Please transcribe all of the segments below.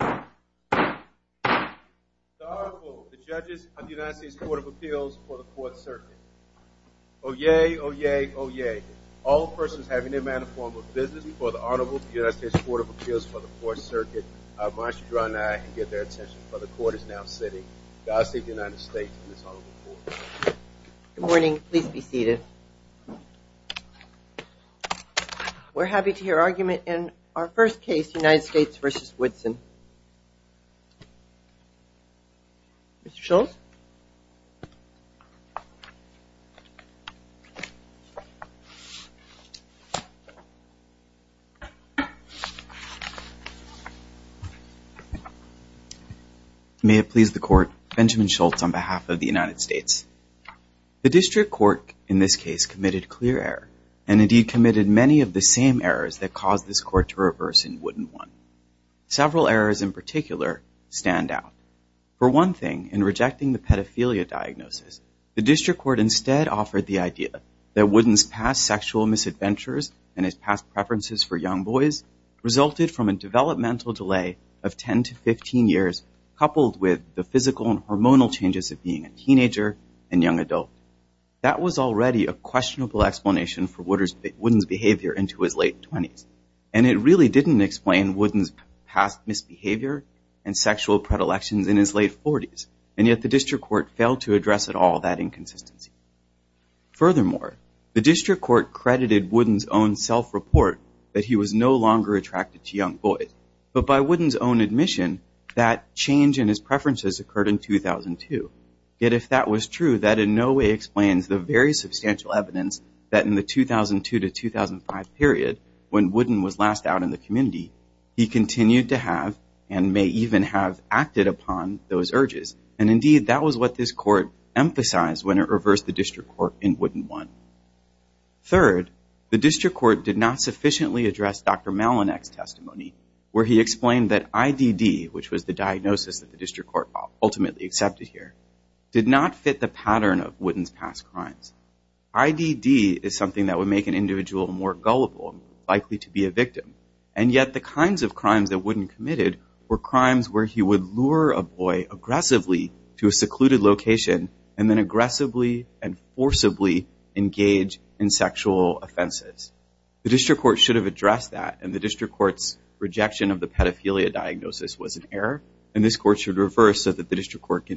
The Honorable, the judges of the United States Court of Appeals for the Fourth Circuit. Oyez, oyez, oyez. All persons having in their manner, form, or business before the Honorable of the United States Court of Appeals for the Fourth Circuit are admonished to draw nigh and give their attention, for the Court is now sitting. God save the United States and this Honorable Court. Good morning. Please be seated. We're happy to hear argument in our first case, United States v. Woodson. Mr. Schultz. May it please the Court, Benjamin Schultz on behalf of the United States. The district court in this case committed clear error and indeed committed many of the same errors that caused this court to reverse in Wooden 1. Several errors in particular stand out. For one thing, in rejecting the pedophilia diagnosis, the district court instead offered the idea that Wooden's past sexual misadventures and his past preferences for young boys resulted from a developmental delay of 10 to 15 years coupled with the physical and hormonal changes of being a teenager and young adult. That was already a questionable explanation for Wooden's behavior into his late 20s, and it really didn't explain Wooden's past misbehavior and sexual predilections in his late 40s, and yet the district court failed to address at all that inconsistency. Furthermore, the district court credited Wooden's own self-report that he was no longer attracted to young boys, but by Wooden's own admission that change in his preferences occurred in 2002. Yet if that was true, that in no way explains the very substantial evidence that in the 2002 to 2005 period, when Wooden was last out in the community, he continued to have and may even have acted upon those urges. And indeed, that was what this court emphasized when it reversed the district court in Wooden 1. Third, the district court did not sufficiently address Dr. Malonek's testimony, where he ultimately accepted here, did not fit the pattern of Wooden's past crimes. IDD is something that would make an individual more gullible and likely to be a victim, and yet the kinds of crimes that Wooden committed were crimes where he would lure a boy aggressively to a secluded location and then aggressively and forcibly engage in sexual offenses. The district court should have addressed that, and the district court's rejection of the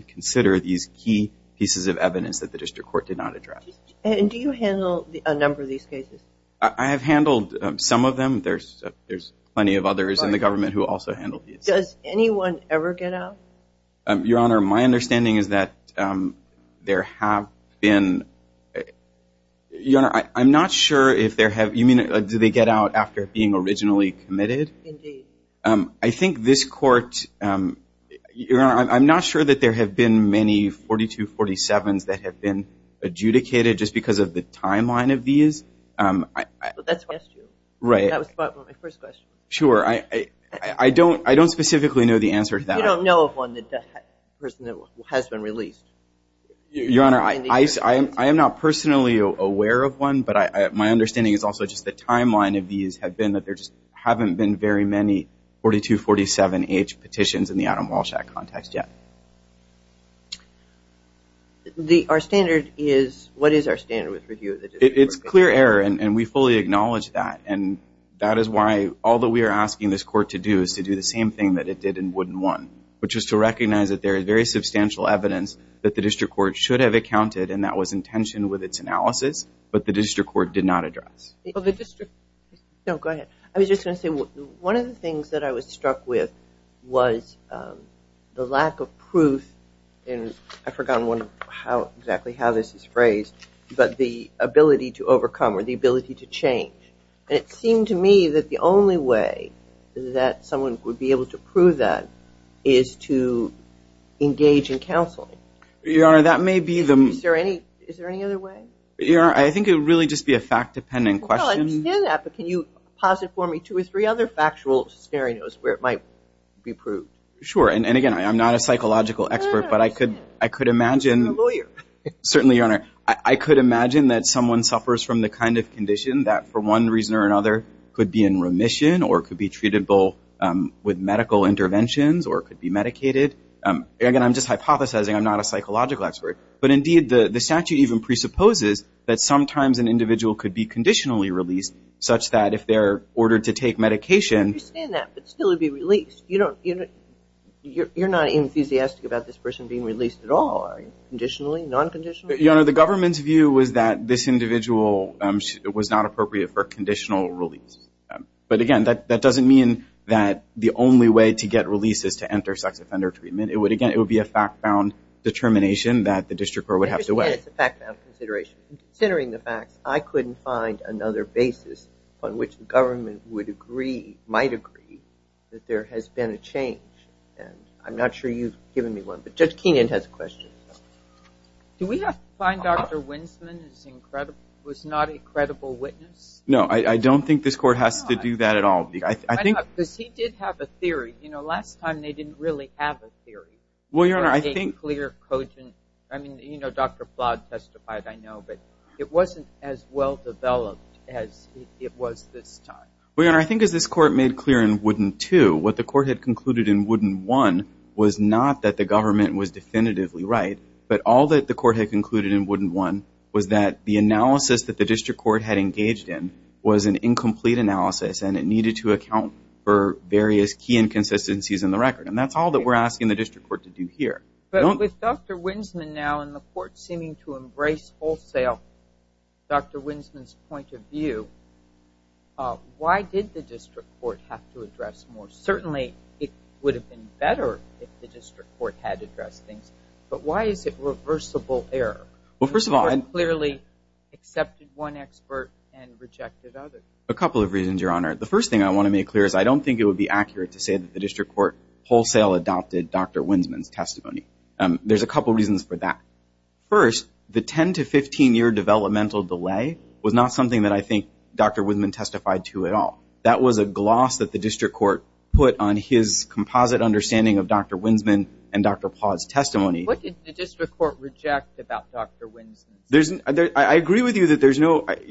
consider these key pieces of evidence that the district court did not address. And do you handle a number of these cases? I have handled some of them. There's plenty of others in the government who also handle these. Does anyone ever get out? Your Honor, my understanding is that there have been – Your Honor, I'm not sure if there have – you mean do they get out after being originally committed? Indeed. I think this court – Your Honor, I'm not sure that there have been many 4247s that have been adjudicated just because of the timeline of these. But that's what I asked you. Right. That was part of my first question. Sure. I don't specifically know the answer to that. You don't know of one that has been released. Your Honor, I am not personally aware of one, but my understanding is also just the timeline of these have been that there just haven't been very many 4247H petitions in the Adam Walsh Act context yet. Our standard is – what is our standard with review of the district court case? It's clear error, and we fully acknowledge that. And that is why all that we are asking this court to do is to do the same thing that it did in Wooden 1, which is to recognize that there is very substantial evidence that the district court should have accounted, and that was intentioned with its analysis, but the district court did not address. Well, the district – no, go ahead. I was just going to say, one of the things that I was struck with was the lack of proof in – I forgot exactly how this is phrased, but the ability to overcome or the ability to change. And it seemed to me that the only way that someone would be able to prove that is to engage in counseling. Your Honor, that may be the – Is there any other way? Your Honor, I think it would really just be a fact-dependent question. Well, I understand that, but can you posit for me two or three other factual scenarios where it might be proved? Sure. And again, I'm not a psychological expert, but I could imagine – You're a lawyer. Certainly, Your Honor. I could imagine that someone suffers from the kind of condition that for one reason or another could be in remission or could be treatable with medical interventions or could be medicated. Again, I'm just hypothesizing. I'm not a psychological expert. But indeed, the statute even presupposes that sometimes an individual could be conditionally released such that if they're ordered to take medication – I understand that, but still it would be released. You don't – you're not enthusiastic about this person being released at all, are you, conditionally, non-conditionally? Your Honor, the government's view was that this individual was not appropriate for conditional release. But again, that doesn't mean that the only way to get release is to enter sex offender treatment. It would, again, it would be a fact-bound determination that the district court would have to weigh. I understand it's a fact-bound consideration. Considering the facts, I couldn't find another basis on which the government would agree, might agree, that there has been a change. And I'm not sure you've given me one. But Judge Keenan has a question. Do we have to find Dr. Winsman was not a credible witness? No, I don't think this court has to do that at all. I think – Because he did have a theory. You know, last time they didn't really have a theory. Well, Your Honor, I think – That made clear – I mean, you know, Dr. Plott testified, I know. But it wasn't as well-developed as it was this time. Well, Your Honor, I think as this court made clear in Wooden 2, what the court had concluded in Wooden 1 was not that the government was definitively right, but all that the court had concluded in Wooden 1 was that the analysis that the district court had engaged in was an incomplete analysis and it needed to account for various key inconsistencies in the record. And that's all that we're asking the district court to do here. But with Dr. Winsman now in the court seeming to embrace wholesale Dr. Winsman's point of view, why did the district court have to address more? Certainly it would have been better if the district court had addressed things, but why is it reversible error? Well, first of all – The court clearly accepted one expert and rejected others. A couple of reasons, Your Honor. The first thing I want to make clear is I don't think it would be accurate to say that the district court wholesale adopted Dr. Winsman's testimony. There's a couple reasons for that. First, the 10 to 15-year developmental delay was not something that I think Dr. Winsman testified to at all. That was a gloss that the district court put on his composite understanding of Dr. Winsman and Dr. Plott's testimony. What did the district court reject about Dr. Winsman's testimony? I agree with you that there's no – Dr.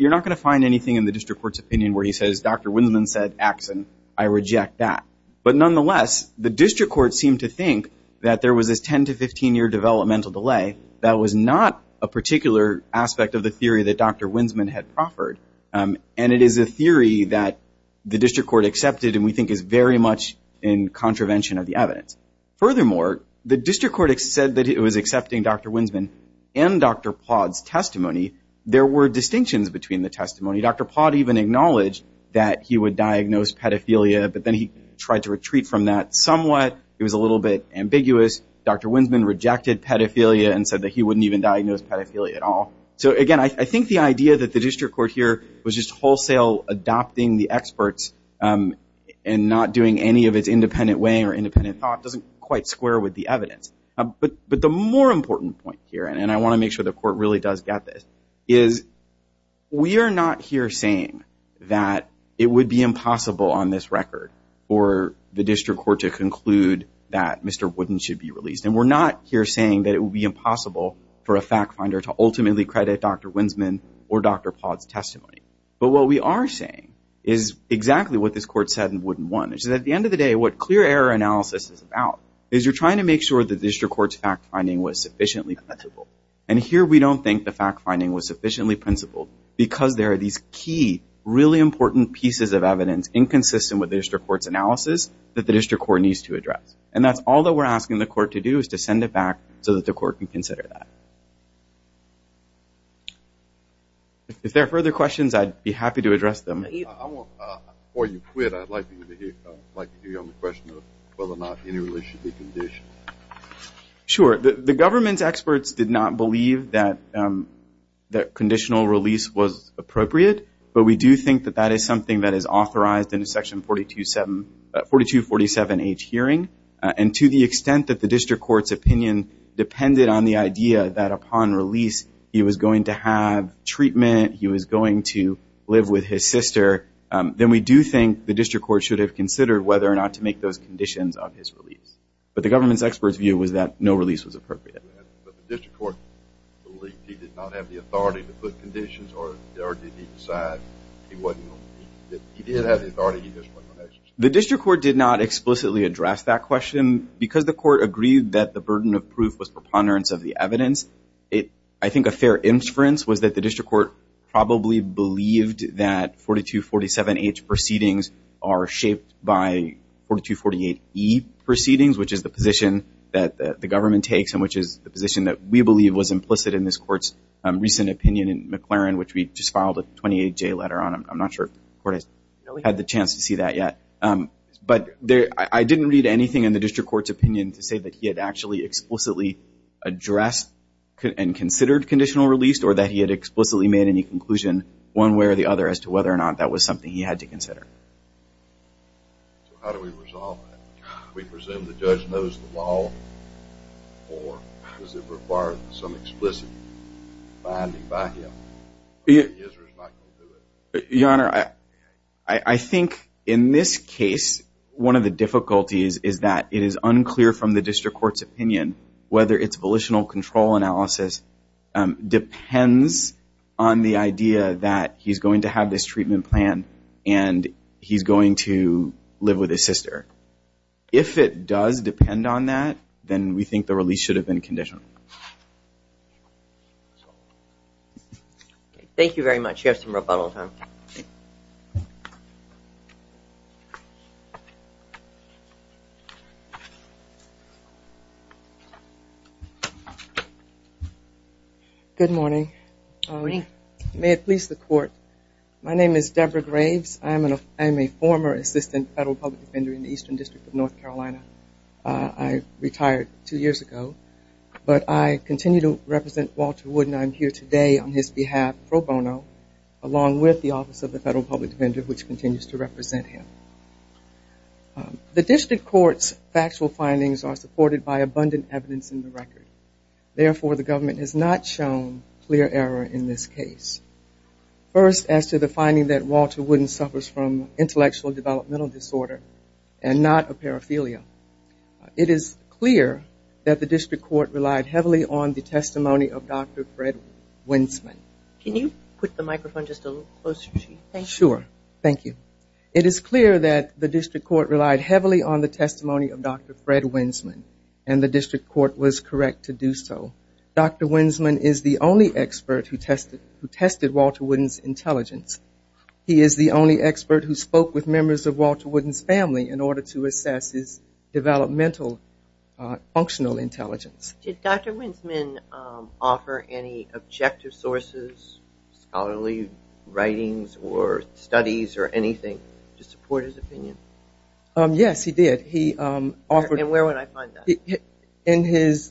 Winsman said, Axson, I reject that. But nonetheless, the district court seemed to think that there was this 10 to 15-year developmental delay. That was not a particular aspect of the theory that Dr. Winsman had proffered, and it is a theory that the district court accepted and we think is very much in contravention of the evidence. Furthermore, the district court said that it was accepting Dr. Winsman and Dr. Plott's testimony. There were distinctions between the testimony. Dr. Plott even acknowledged that he would diagnose pedophilia, but then he tried to retreat from that somewhat. It was a little bit ambiguous. Dr. Winsman rejected pedophilia and said that he wouldn't even diagnose pedophilia at all. So, again, I think the idea that the district court here was just wholesale adopting the experts and not doing any of its independent way or independent thought doesn't quite square with the evidence. But the more important point here, and I want to make sure the court really does get this, is we are not here saying that it would be impossible on this record for the district court to conclude that Mr. Wooden should be released, and we're not here saying that it would be impossible for a fact finder to ultimately credit Dr. Winsman or Dr. Plott's testimony. But what we are saying is exactly what this court said in Wooden 1, which is at the end of the day what clear error analysis is about is you're trying to make sure the district court's fact finding was sufficiently principled. And here we don't think the fact finding was sufficiently principled because there are these key, really important pieces of evidence inconsistent with the district court's analysis that the district court needs to address. And that's all that we're asking the court to do is to send it back so that the court can consider that. If there are further questions, I'd be happy to address them. Before you quit, I'd like to hear you on the question of whether or not any release should be conditioned. Sure. The government's experts did not believe that conditional release was appropriate, but we do think that that is something that is authorized in a Section 4247H hearing. And to the extent that the district court's opinion depended on the idea that upon release he was going to have treatment, he was going to live with his sister, then we do think the district court should have considered whether or not to make those conditions of his release. But the government's expert's view was that no release was appropriate. But the district court believed he did not have the authority to put conditions or did he decide he didn't have the authority? The district court did not explicitly address that question. Because the court agreed that the burden of proof was preponderance of the evidence, I think a fair inference was that the district court probably believed that 4247H proceedings are shaped by 4248E proceedings, which is the position that the government takes and which is the position that we believe was implicit in this court's recent opinion in McLaren, which we just filed a 28-J letter on. I'm not sure if the court has had the chance to see that yet. But I didn't read anything in the district court's opinion to say that he had actually explicitly addressed and considered conditional release or that he had explicitly made any conclusion one way or the other as to whether or not that was something he had to consider. So how do we resolve that? Do we presume the judge knows the law or does it require some explicit binding by him? He is or is not going to do it? Your Honor, I think in this case one of the difficulties is that it is unclear from the district court's opinion whether its volitional control analysis depends on the idea that he's going to have this treatment plan and he's going to live with his sister. If it does depend on that, then we think the release should have been conditional. Thank you very much. You have some rebuttal time. Good morning. Good morning. May it please the court, my name is Deborah Graves. I am a former assistant federal public defender in the Eastern District of North Carolina. I retired two years ago. But I continue to represent Walter Wood and I'm here today on his behalf pro bono along with the Office of the Federal Public Defender, which continues to represent him. The district court's factual findings are supported by abundant evidence in the record. Therefore, the government has not shown clear error in this case. First, as to the finding that Walter Wooden suffers from intellectual developmental disorder and not a paraphernalia, it is clear that the district court relied heavily on the testimony of Dr. Fred Winsman. Can you put the microphone just a little closer to you? Sure. Thank you. It is clear that the district court relied heavily on the testimony of Dr. Fred Winsman to do so. Dr. Winsman is the only expert who tested Walter Wooden's intelligence. He is the only expert who spoke with members of Walter Wooden's family in order to assess his developmental functional intelligence. Did Dr. Winsman offer any objective sources, scholarly writings or studies or anything to support his opinion? Yes, he did. And where would I find that? In his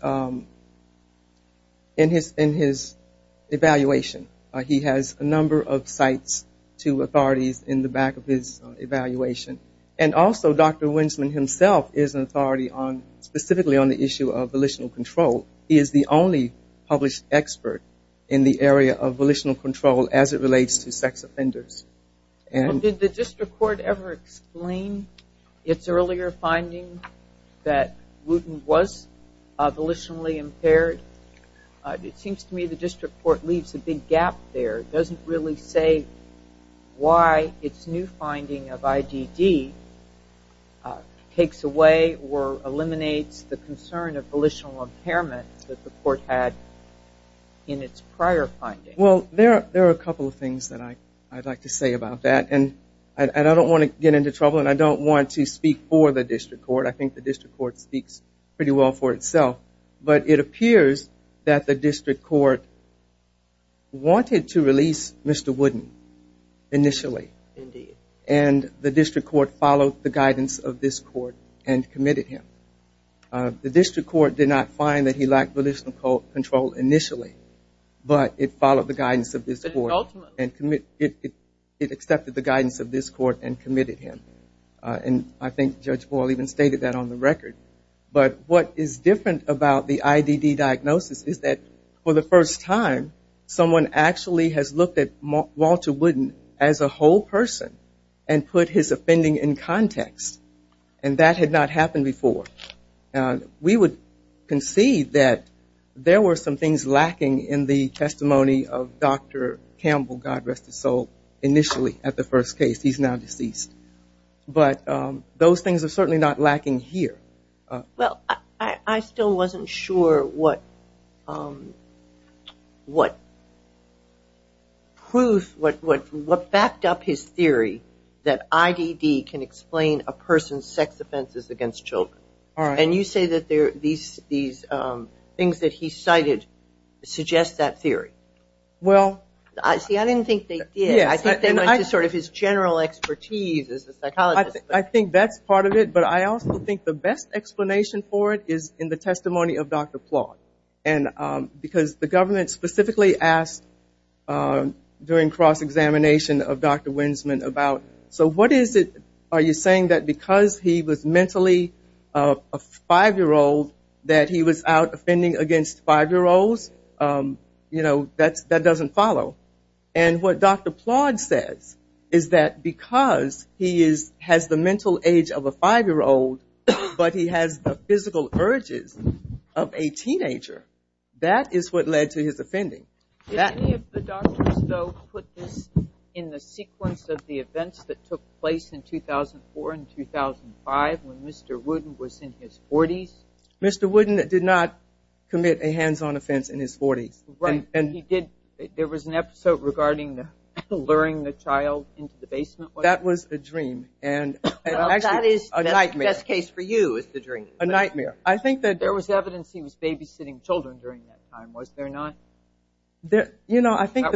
evaluation. He has a number of sites to authorities in the back of his evaluation. And also Dr. Winsman himself is an authority specifically on the issue of volitional control. He is the only published expert in the area of volitional control as it relates to sex offenders. Did the district court ever explain its earlier finding that Wooden was volitionally impaired? It seems to me the district court leaves a big gap there. It doesn't really say why its new finding of IDD takes away or eliminates the concern of volitional impairment that the court had in its prior finding. Well, there are a couple of things that I'd like to say about that. And I don't want to get into trouble and I don't want to speak for the district court. I think the district court speaks pretty well for itself. But it appears that the district court wanted to release Mr. Wooden initially. Indeed. And the district court followed the guidance of this court and committed him. The district court did not find that he lacked volitional control initially, but it followed the guidance of this court and it accepted the guidance of this court and committed him. And I think Judge Boyle even stated that on the record. But what is different about the IDD diagnosis is that for the first time, someone actually has looked at Walter Wooden as a whole person and put his offending in context. And that had not happened before. We would concede that there were some things lacking in the testimony of Dr. Campbell, God rest his soul, initially at the first case. He's now deceased. But those things are certainly not lacking here. Well, I still wasn't sure what proof, what backed up his theory that IDD can explain a person's sex offenses against children. And you say that these things that he cited suggest that theory. See, I didn't think they did. I think they went to sort of his general expertise as a psychologist. I think that's part of it. But I also think the best explanation for it is in the testimony of Dr. Plott. Because the government specifically asked during cross-examination of Dr. Winsman about, so what is it, are you saying that because he was mentally a five-year-old, that he was out offending against five-year-olds? You know, that doesn't follow. And what Dr. Plott says is that because he has the mental age of a five-year-old, but he has the physical urges of a teenager, that is what led to his offending. Did any of the doctors, though, put this in the sequence of the events that took place in 2004 and 2005 when Mr. Wooden was in his 40s? Mr. Wooden did not commit a hands-on offense in his 40s. Right. He did. There was an episode regarding luring the child into the basement. That was a dream. And actually a nightmare. The best case for you is the dream. A nightmare. There was evidence he was babysitting children during that time, was there not? You know, I think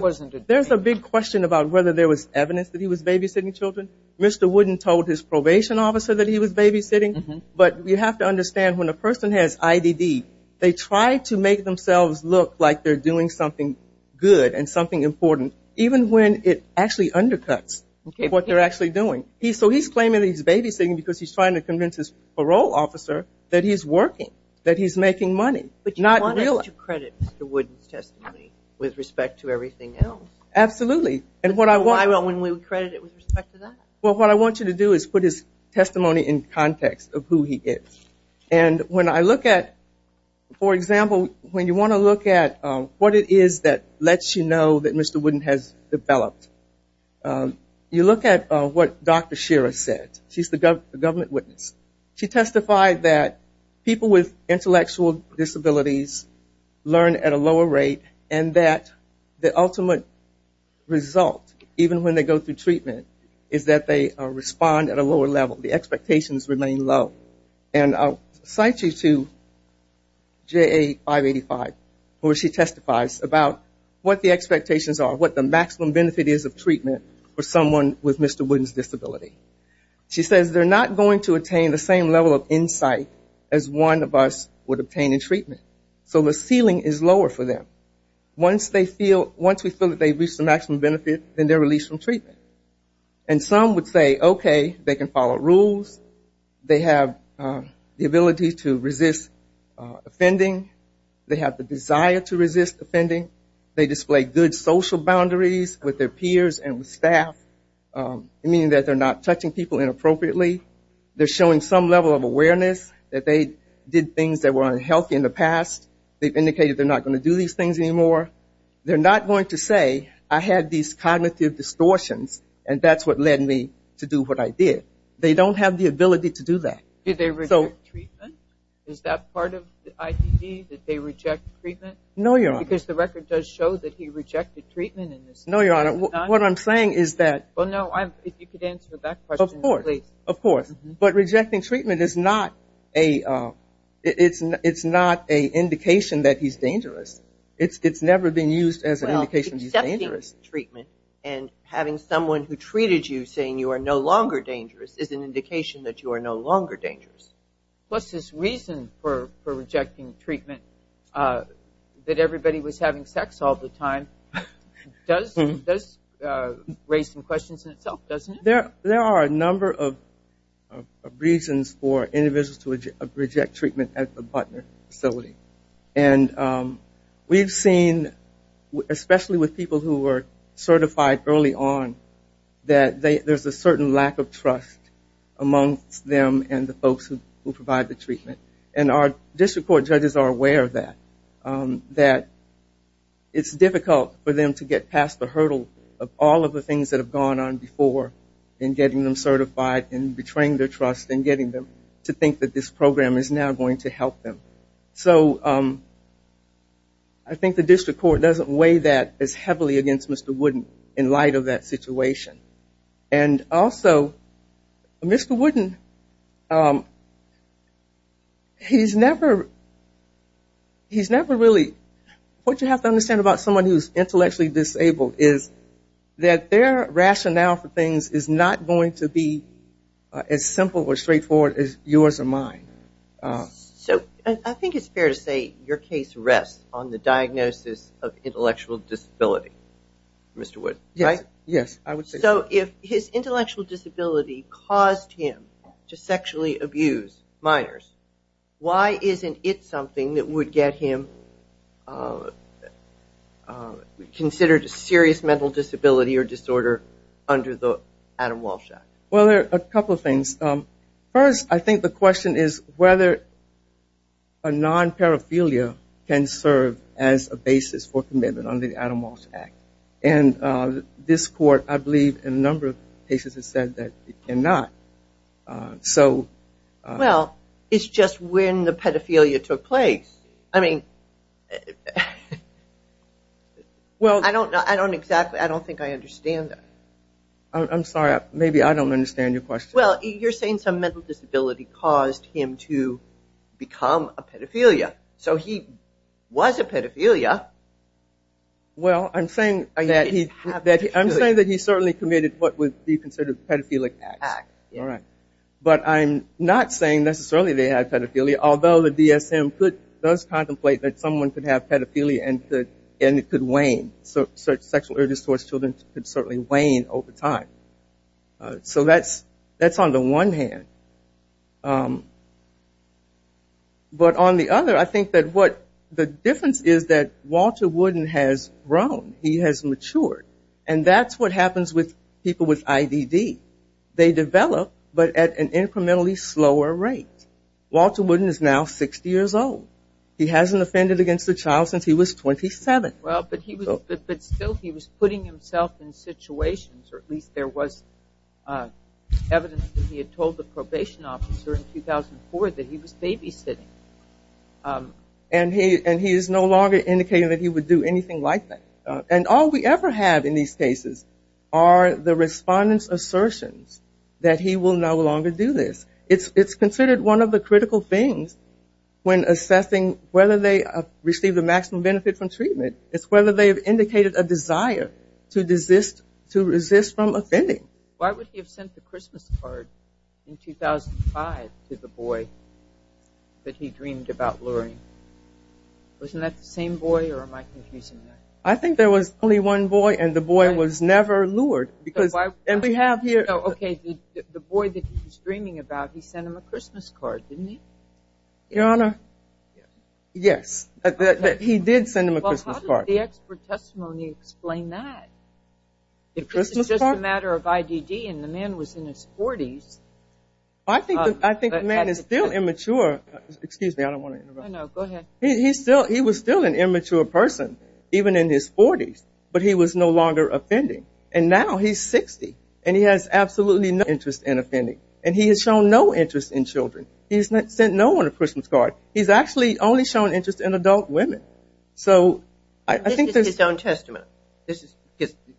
there's a big question about whether there was evidence that he was babysitting children. Mr. Wooden told his probation officer that he was babysitting. But you have to understand, when a person has IDD, they try to make themselves look like they're doing something good and something important, even when it actually undercuts what they're actually doing. So he's claiming that he's babysitting because he's trying to convince his parole officer that he's working, that he's making money. But you want us to credit Mr. Wooden's testimony with respect to everything else. Absolutely. Why would we credit it with respect to that? Well, what I want you to do is put his testimony in context of who he is. And when I look at, for example, when you want to look at what it is that lets you know that Mr. Wooden has developed, you look at what Dr. Shira said. She's the government witness. She testified that people with intellectual disabilities learn at a lower rate and that the ultimate result, even when they go through treatment, is that they respond at a lower level. The expectations remain low. And I'll cite you to JA 585 where she testifies about what the expectations are, what the maximum benefit is of treatment for someone with Mr. Wooden's disability. She says, they're not going to attain the same level of insight as one of us would obtain in treatment. So the ceiling is lower for them. Once we feel that they've reached the maximum benefit, then they're released from treatment. And some would say, okay, they can follow rules. They have the ability to resist offending. They have the desire to resist offending. They display good social boundaries with their peers and with staff, meaning that they're not touching people inappropriately. They're showing some level of awareness that they did things that were unhealthy in the past. They've indicated they're not going to do these things anymore. They're not going to say, I had these cognitive distortions, and that's what led me to do what I did. They don't have the ability to do that. Did they reject treatment? Is that part of the ITD, that they reject treatment? No, Your Honor. Because the record does show that he rejected treatment. No, Your Honor. What I'm saying is that of course, but rejecting treatment is not a indication that he's dangerous. It's never been used as an indication that he's dangerous. Well, accepting treatment and having someone who treated you saying you are no longer dangerous is an indication that you are no longer dangerous. What's his reason for rejecting treatment, that everybody was having sex all the time? It does raise some questions in itself, doesn't it? There are a number of reasons for individuals to reject treatment at the Butner facility. And we've seen, especially with people who were certified early on, that there's a certain lack of trust amongst them and the folks who provide the treatment. And our district court judges are aware of that, that it's difficult for them to get past the hurdle of all of the things that have gone on before in getting them certified and betraying their trust and getting them to think that this program is now going to help them. So I think the district court doesn't weigh that as heavily against Mr. Wooden in light of that situation. And also, Mr. Wooden, he's never really – what you have to understand about someone who is intellectually disabled is that their rationale for things is not going to be as simple or straightforward as yours or mine. So I think it's fair to say your case rests on the diagnosis of intellectual disability, Mr. Wood, right? Yes, I would say so. So if his intellectual disability caused him to sexually abuse minors, why isn't it something that would get him considered a serious mental disability or disorder under the Adam Walsh Act? Well, there are a couple of things. First, I think the question is whether a non-paraphernalia can serve as a basis for commitment under the Adam Walsh Act. And this court, I believe, in a number of cases has said that it cannot. Well, it's just when the pedophilia took place. I don't think I understand that. I'm sorry, maybe I don't understand your question. Well, you're saying some mental disability caused him to become a pedophilia. So he was a pedophilia. Well, I'm saying that he certainly committed what would be considered pedophilic acts. But I'm not saying necessarily they had pedophilia, although the DSM does contemplate that someone could have pedophilia and it could wane. Sexual urges towards children could certainly wane over time. So that's on the one hand. But on the other, I think that what the difference is that Walter Wooden has grown. He has matured. And that's what happens with people with IDD. They develop, but at an incrementally slower rate. Walter Wooden is now 60 years old. He hasn't offended against a child since he was 27. Well, but still he was putting himself in situations, or at least there was evidence that he had told the probation officer in 2004 that he was babysitting. And he is no longer indicating that he would do anything like that. And all we ever have in these cases are the respondents' assertions that he will no longer do this. It's considered one of the critical things when assessing whether they receive the maximum benefit from treatment. It's whether they have indicated a desire to resist from offending. Why would he have sent the Christmas card in 2005 to the boy that he dreamed about luring? Wasn't that the same boy or am I confusing that? I think there was only one boy and the boy was never lured. And we have here. Okay. The boy that he was dreaming about, he sent him a Christmas card, didn't he? Your Honor, yes. He did send him a Christmas card. Well, how does the expert testimony explain that? It's just a matter of IDD and the man was in his 40s. I think the man is still immature. Excuse me, I don't want to interrupt. No, go ahead. He was still an immature person, even in his 40s. But he was no longer offending. And now he's 60 and he has absolutely no interest in offending. And he has shown no interest in children. He has sent no one a Christmas card. He's actually only shown interest in adult women. This is his own testimony.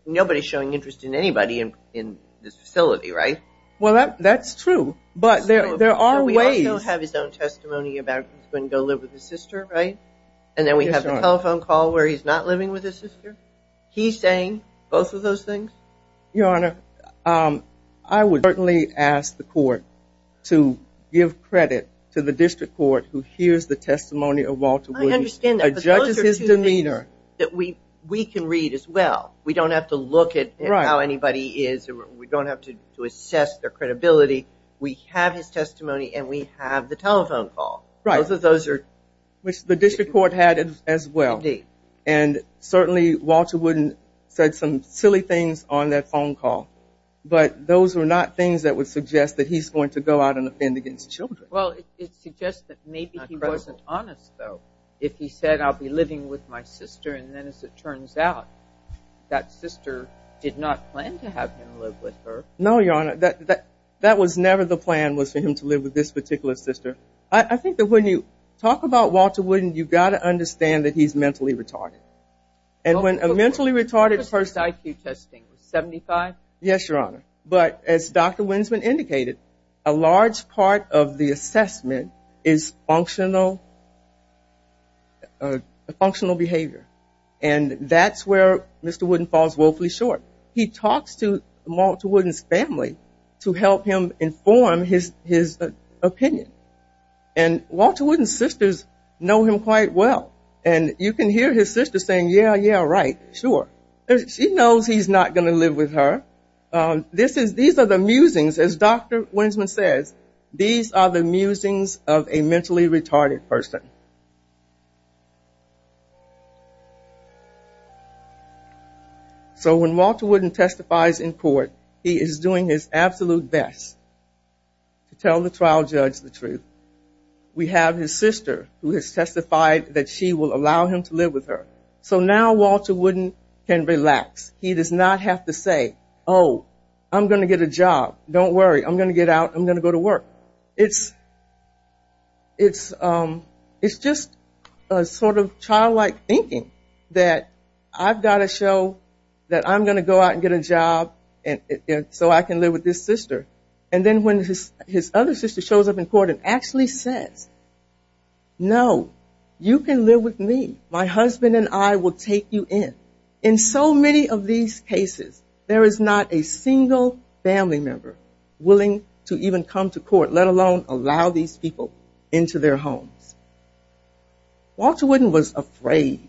Nobody is showing interest in anybody in this facility, right? Well, that's true. But there are ways. But we also have his own testimony about him going to go live with his sister, right? And then we have the telephone call where he's not living with his sister. He's saying both of those things? Your Honor, I would certainly ask the court to give credit to the district court who hears the testimony of Walter Wooden. I understand that. But those are two things that we can read as well. We don't have to look at how anybody is. We don't have to assess their credibility. We have his testimony and we have the telephone call. Right. Which the district court had as well. Indeed. And certainly Walter Wooden said some silly things on that phone call. But those are not things that would suggest that he's going to go out and offend against children. Well, it suggests that maybe he wasn't honest, though. If he said, I'll be living with my sister, and then as it turns out, that sister did not plan to have him live with her. No, Your Honor. That was never the plan was for him to live with this particular sister. I think that when you talk about Walter Wooden, you've got to understand that he's mentally retarded. And when a mentally retarded person. His IQ testing was 75? Yes, Your Honor. But as Dr. Winsman indicated, a large part of the assessment is functional behavior. And that's where Mr. Wooden falls woefully short. He talks to Walter Wooden's family to help him inform his opinion. And Walter Wooden's sisters know him quite well. And you can hear his sister saying, yeah, yeah, right, sure. She knows he's not going to live with her. These are the musings, as Dr. Winsman says. These are the musings of a mentally retarded person. So when Walter Wooden testifies in court, he is doing his absolute best to tell the trial judge the truth. We have his sister who has testified that she will allow him to live with her. So now Walter Wooden can relax. He does not have to say, oh, I'm going to get a job. Don't worry. I'm going to get out. I'm going to go to work. It's just a sort of childlike thinking that I've got to show that I'm going to go out and get a job so I can live with this sister. And then when his other sister shows up in court and actually says, no, you can live with me. My husband and I will take you in. In so many of these cases, there is not a single family member willing to even come to court, let alone allow these people into their homes. Walter Wooden was afraid,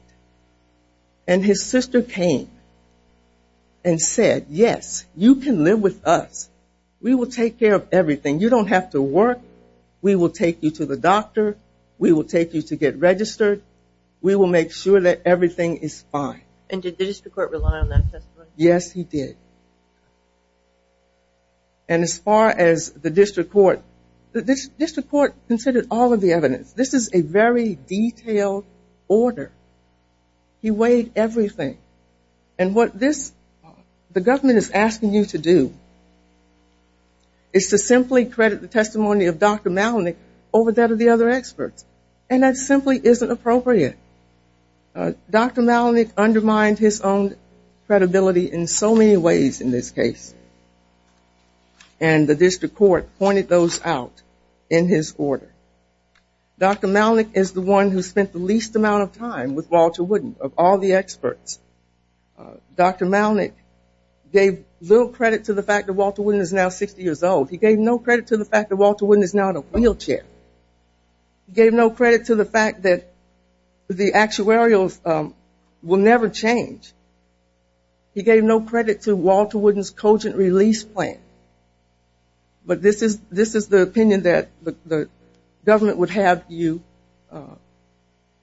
and his sister came and said, yes, you can live with us. We will take care of everything. You don't have to work. We will take you to the doctor. We will take you to get registered. We will make sure that everything is fine. And did the district court rely on that testimony? Yes, he did. And as far as the district court, the district court considered all of the evidence. This is a very detailed order. He weighed everything. And what the government is asking you to do is to simply credit the testimony of Dr. Maloney over that of the other experts. And that simply isn't appropriate. Dr. Maloney undermined his own credibility in so many ways in this case. And the district court pointed those out in his order. Dr. Maloney is the one who spent the least amount of time with Walter Wooden of all the experts. Dr. Maloney gave little credit to the fact that Walter Wooden is now 60 years old. He gave no credit to the fact that Walter Wooden is now in a wheelchair. He gave no credit to the fact that the actuarials will never change. He gave no credit to Walter Wooden's cogent release plan. But this is the opinion that the government would have you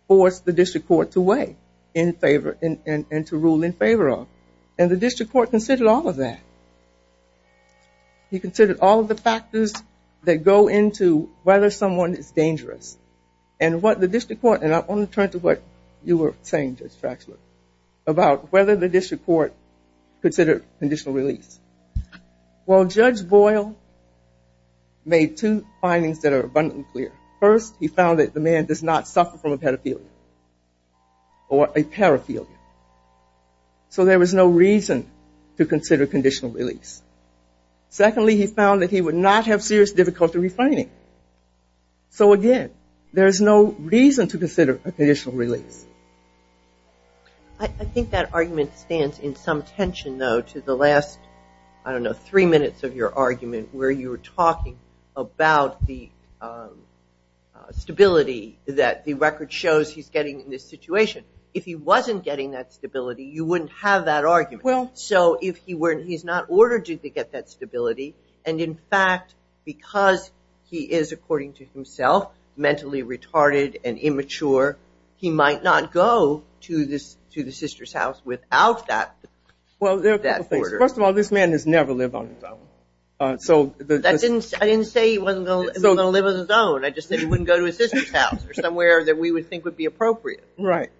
force the district court to weigh and to rule in favor of. And the district court considered all of that. He considered all of the factors that go into whether someone is dangerous. And what the district court, and I want to turn to what you were saying, Judge Fraxler, about whether the district court considered conditional release. Well, Judge Boyle made two findings that are abundantly clear. First, he found that the man does not suffer from a pedophilia or a paraphilia. So there was no reason to consider conditional release. Secondly, he found that he would not have serious difficulty refining. So, again, there is no reason to consider a conditional release. I think that argument stands in some tension, though, to the last, I don't know, three minutes of your argument where you were talking about the stability that the record shows he's getting in this situation. If he wasn't getting that stability, you wouldn't have that argument. So if he's not ordered to get that stability, and, in fact, because he is, according to himself, mentally retarded and immature, he might not go to the sister's house without that order. First of all, this man has never lived on his own. I didn't say he wasn't going to live on his own. I just said he wouldn't go to his sister's house or somewhere that we would think would be appropriate. Right,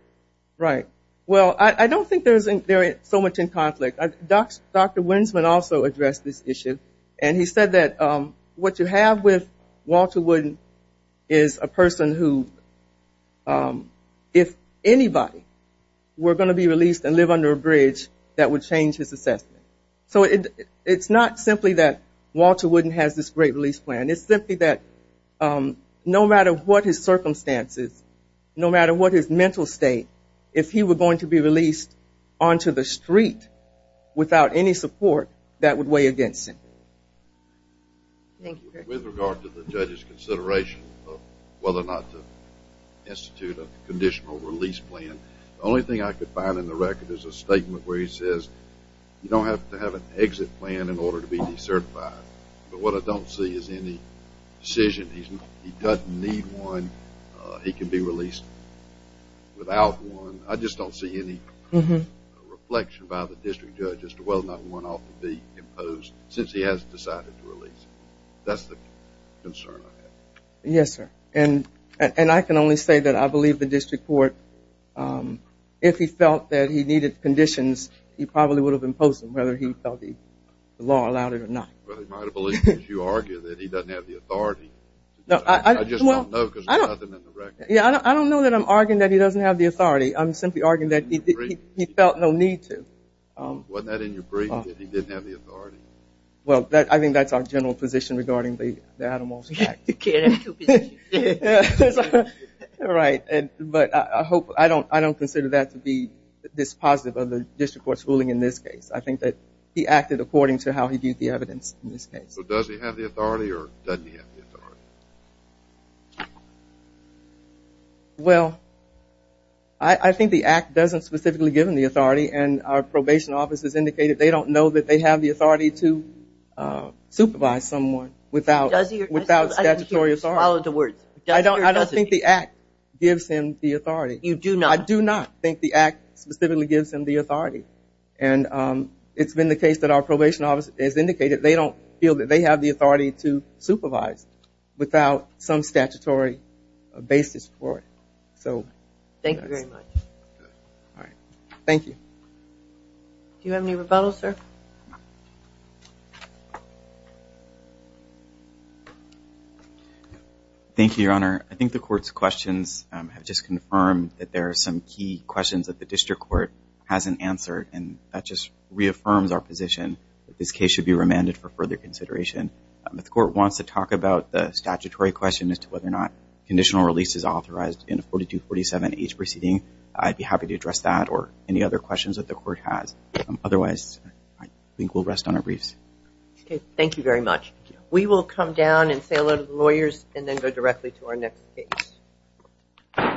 right. Well, I don't think there is so much in conflict. Dr. Winsman also addressed this issue, and he said that what you have with Walter Wooden is a person who, if anybody were going to be released and live under a bridge, that would change his assessment. So it's not simply that Walter Wooden has this great release plan. It's simply that no matter what his circumstances, no matter what his mental state, if he were going to be released onto the street without any support, that would weigh against him. Thank you. With regard to the judge's consideration of whether or not to institute a conditional release plan, the only thing I could find in the record is a statement where he says you don't have to have an exit plan in order to be decertified. But what I don't see is any decision. He doesn't need one. He can be released without one. I just don't see any reflection by the district judge as to whether or not one ought to be imposed since he hasn't decided to release him. That's the concern I have. Yes, sir. And I can only say that I believe the district court, if he felt that he needed conditions, he probably would have imposed them whether he felt the law allowed it or not. Well, he might have believed it if you argued that he doesn't have the authority. I just don't know because there's nothing in the record. I don't know that I'm arguing that he doesn't have the authority. I'm simply arguing that he felt no need to. Wasn't that in your brief that he didn't have the authority? Well, I think that's our general position regarding the Animals Act. You can't have two positions. Right, but I don't consider that to be this positive of the district court's ruling in this case. I think that he acted according to how he viewed the evidence in this case. So does he have the authority or doesn't he have the authority? Well, I think the act doesn't specifically give him the authority, and our probation office has indicated they don't know that they have the authority to supervise someone without statutory authority. I don't think the act gives him the authority. You do not? I do not think the act specifically gives him the authority, and it's been the case that our probation office has indicated they don't feel that they have the authority to supervise without some statutory basis for it. Thank you very much. Thank you. Do you have any rebuttals, sir? Thank you, Your Honor. I think the court's questions have just confirmed that there are some key questions that the district court hasn't answered, and that just reaffirms our position that this case should be remanded for further consideration. If the court wants to talk about the statutory question as to whether or not conditional release is authorized in a 4247H proceeding, I'd be happy to address that or any other questions that the court has. Otherwise, I think we'll rest on our briefs. Okay. Thank you very much. We will come down and say hello to the lawyers and then go directly to our next case.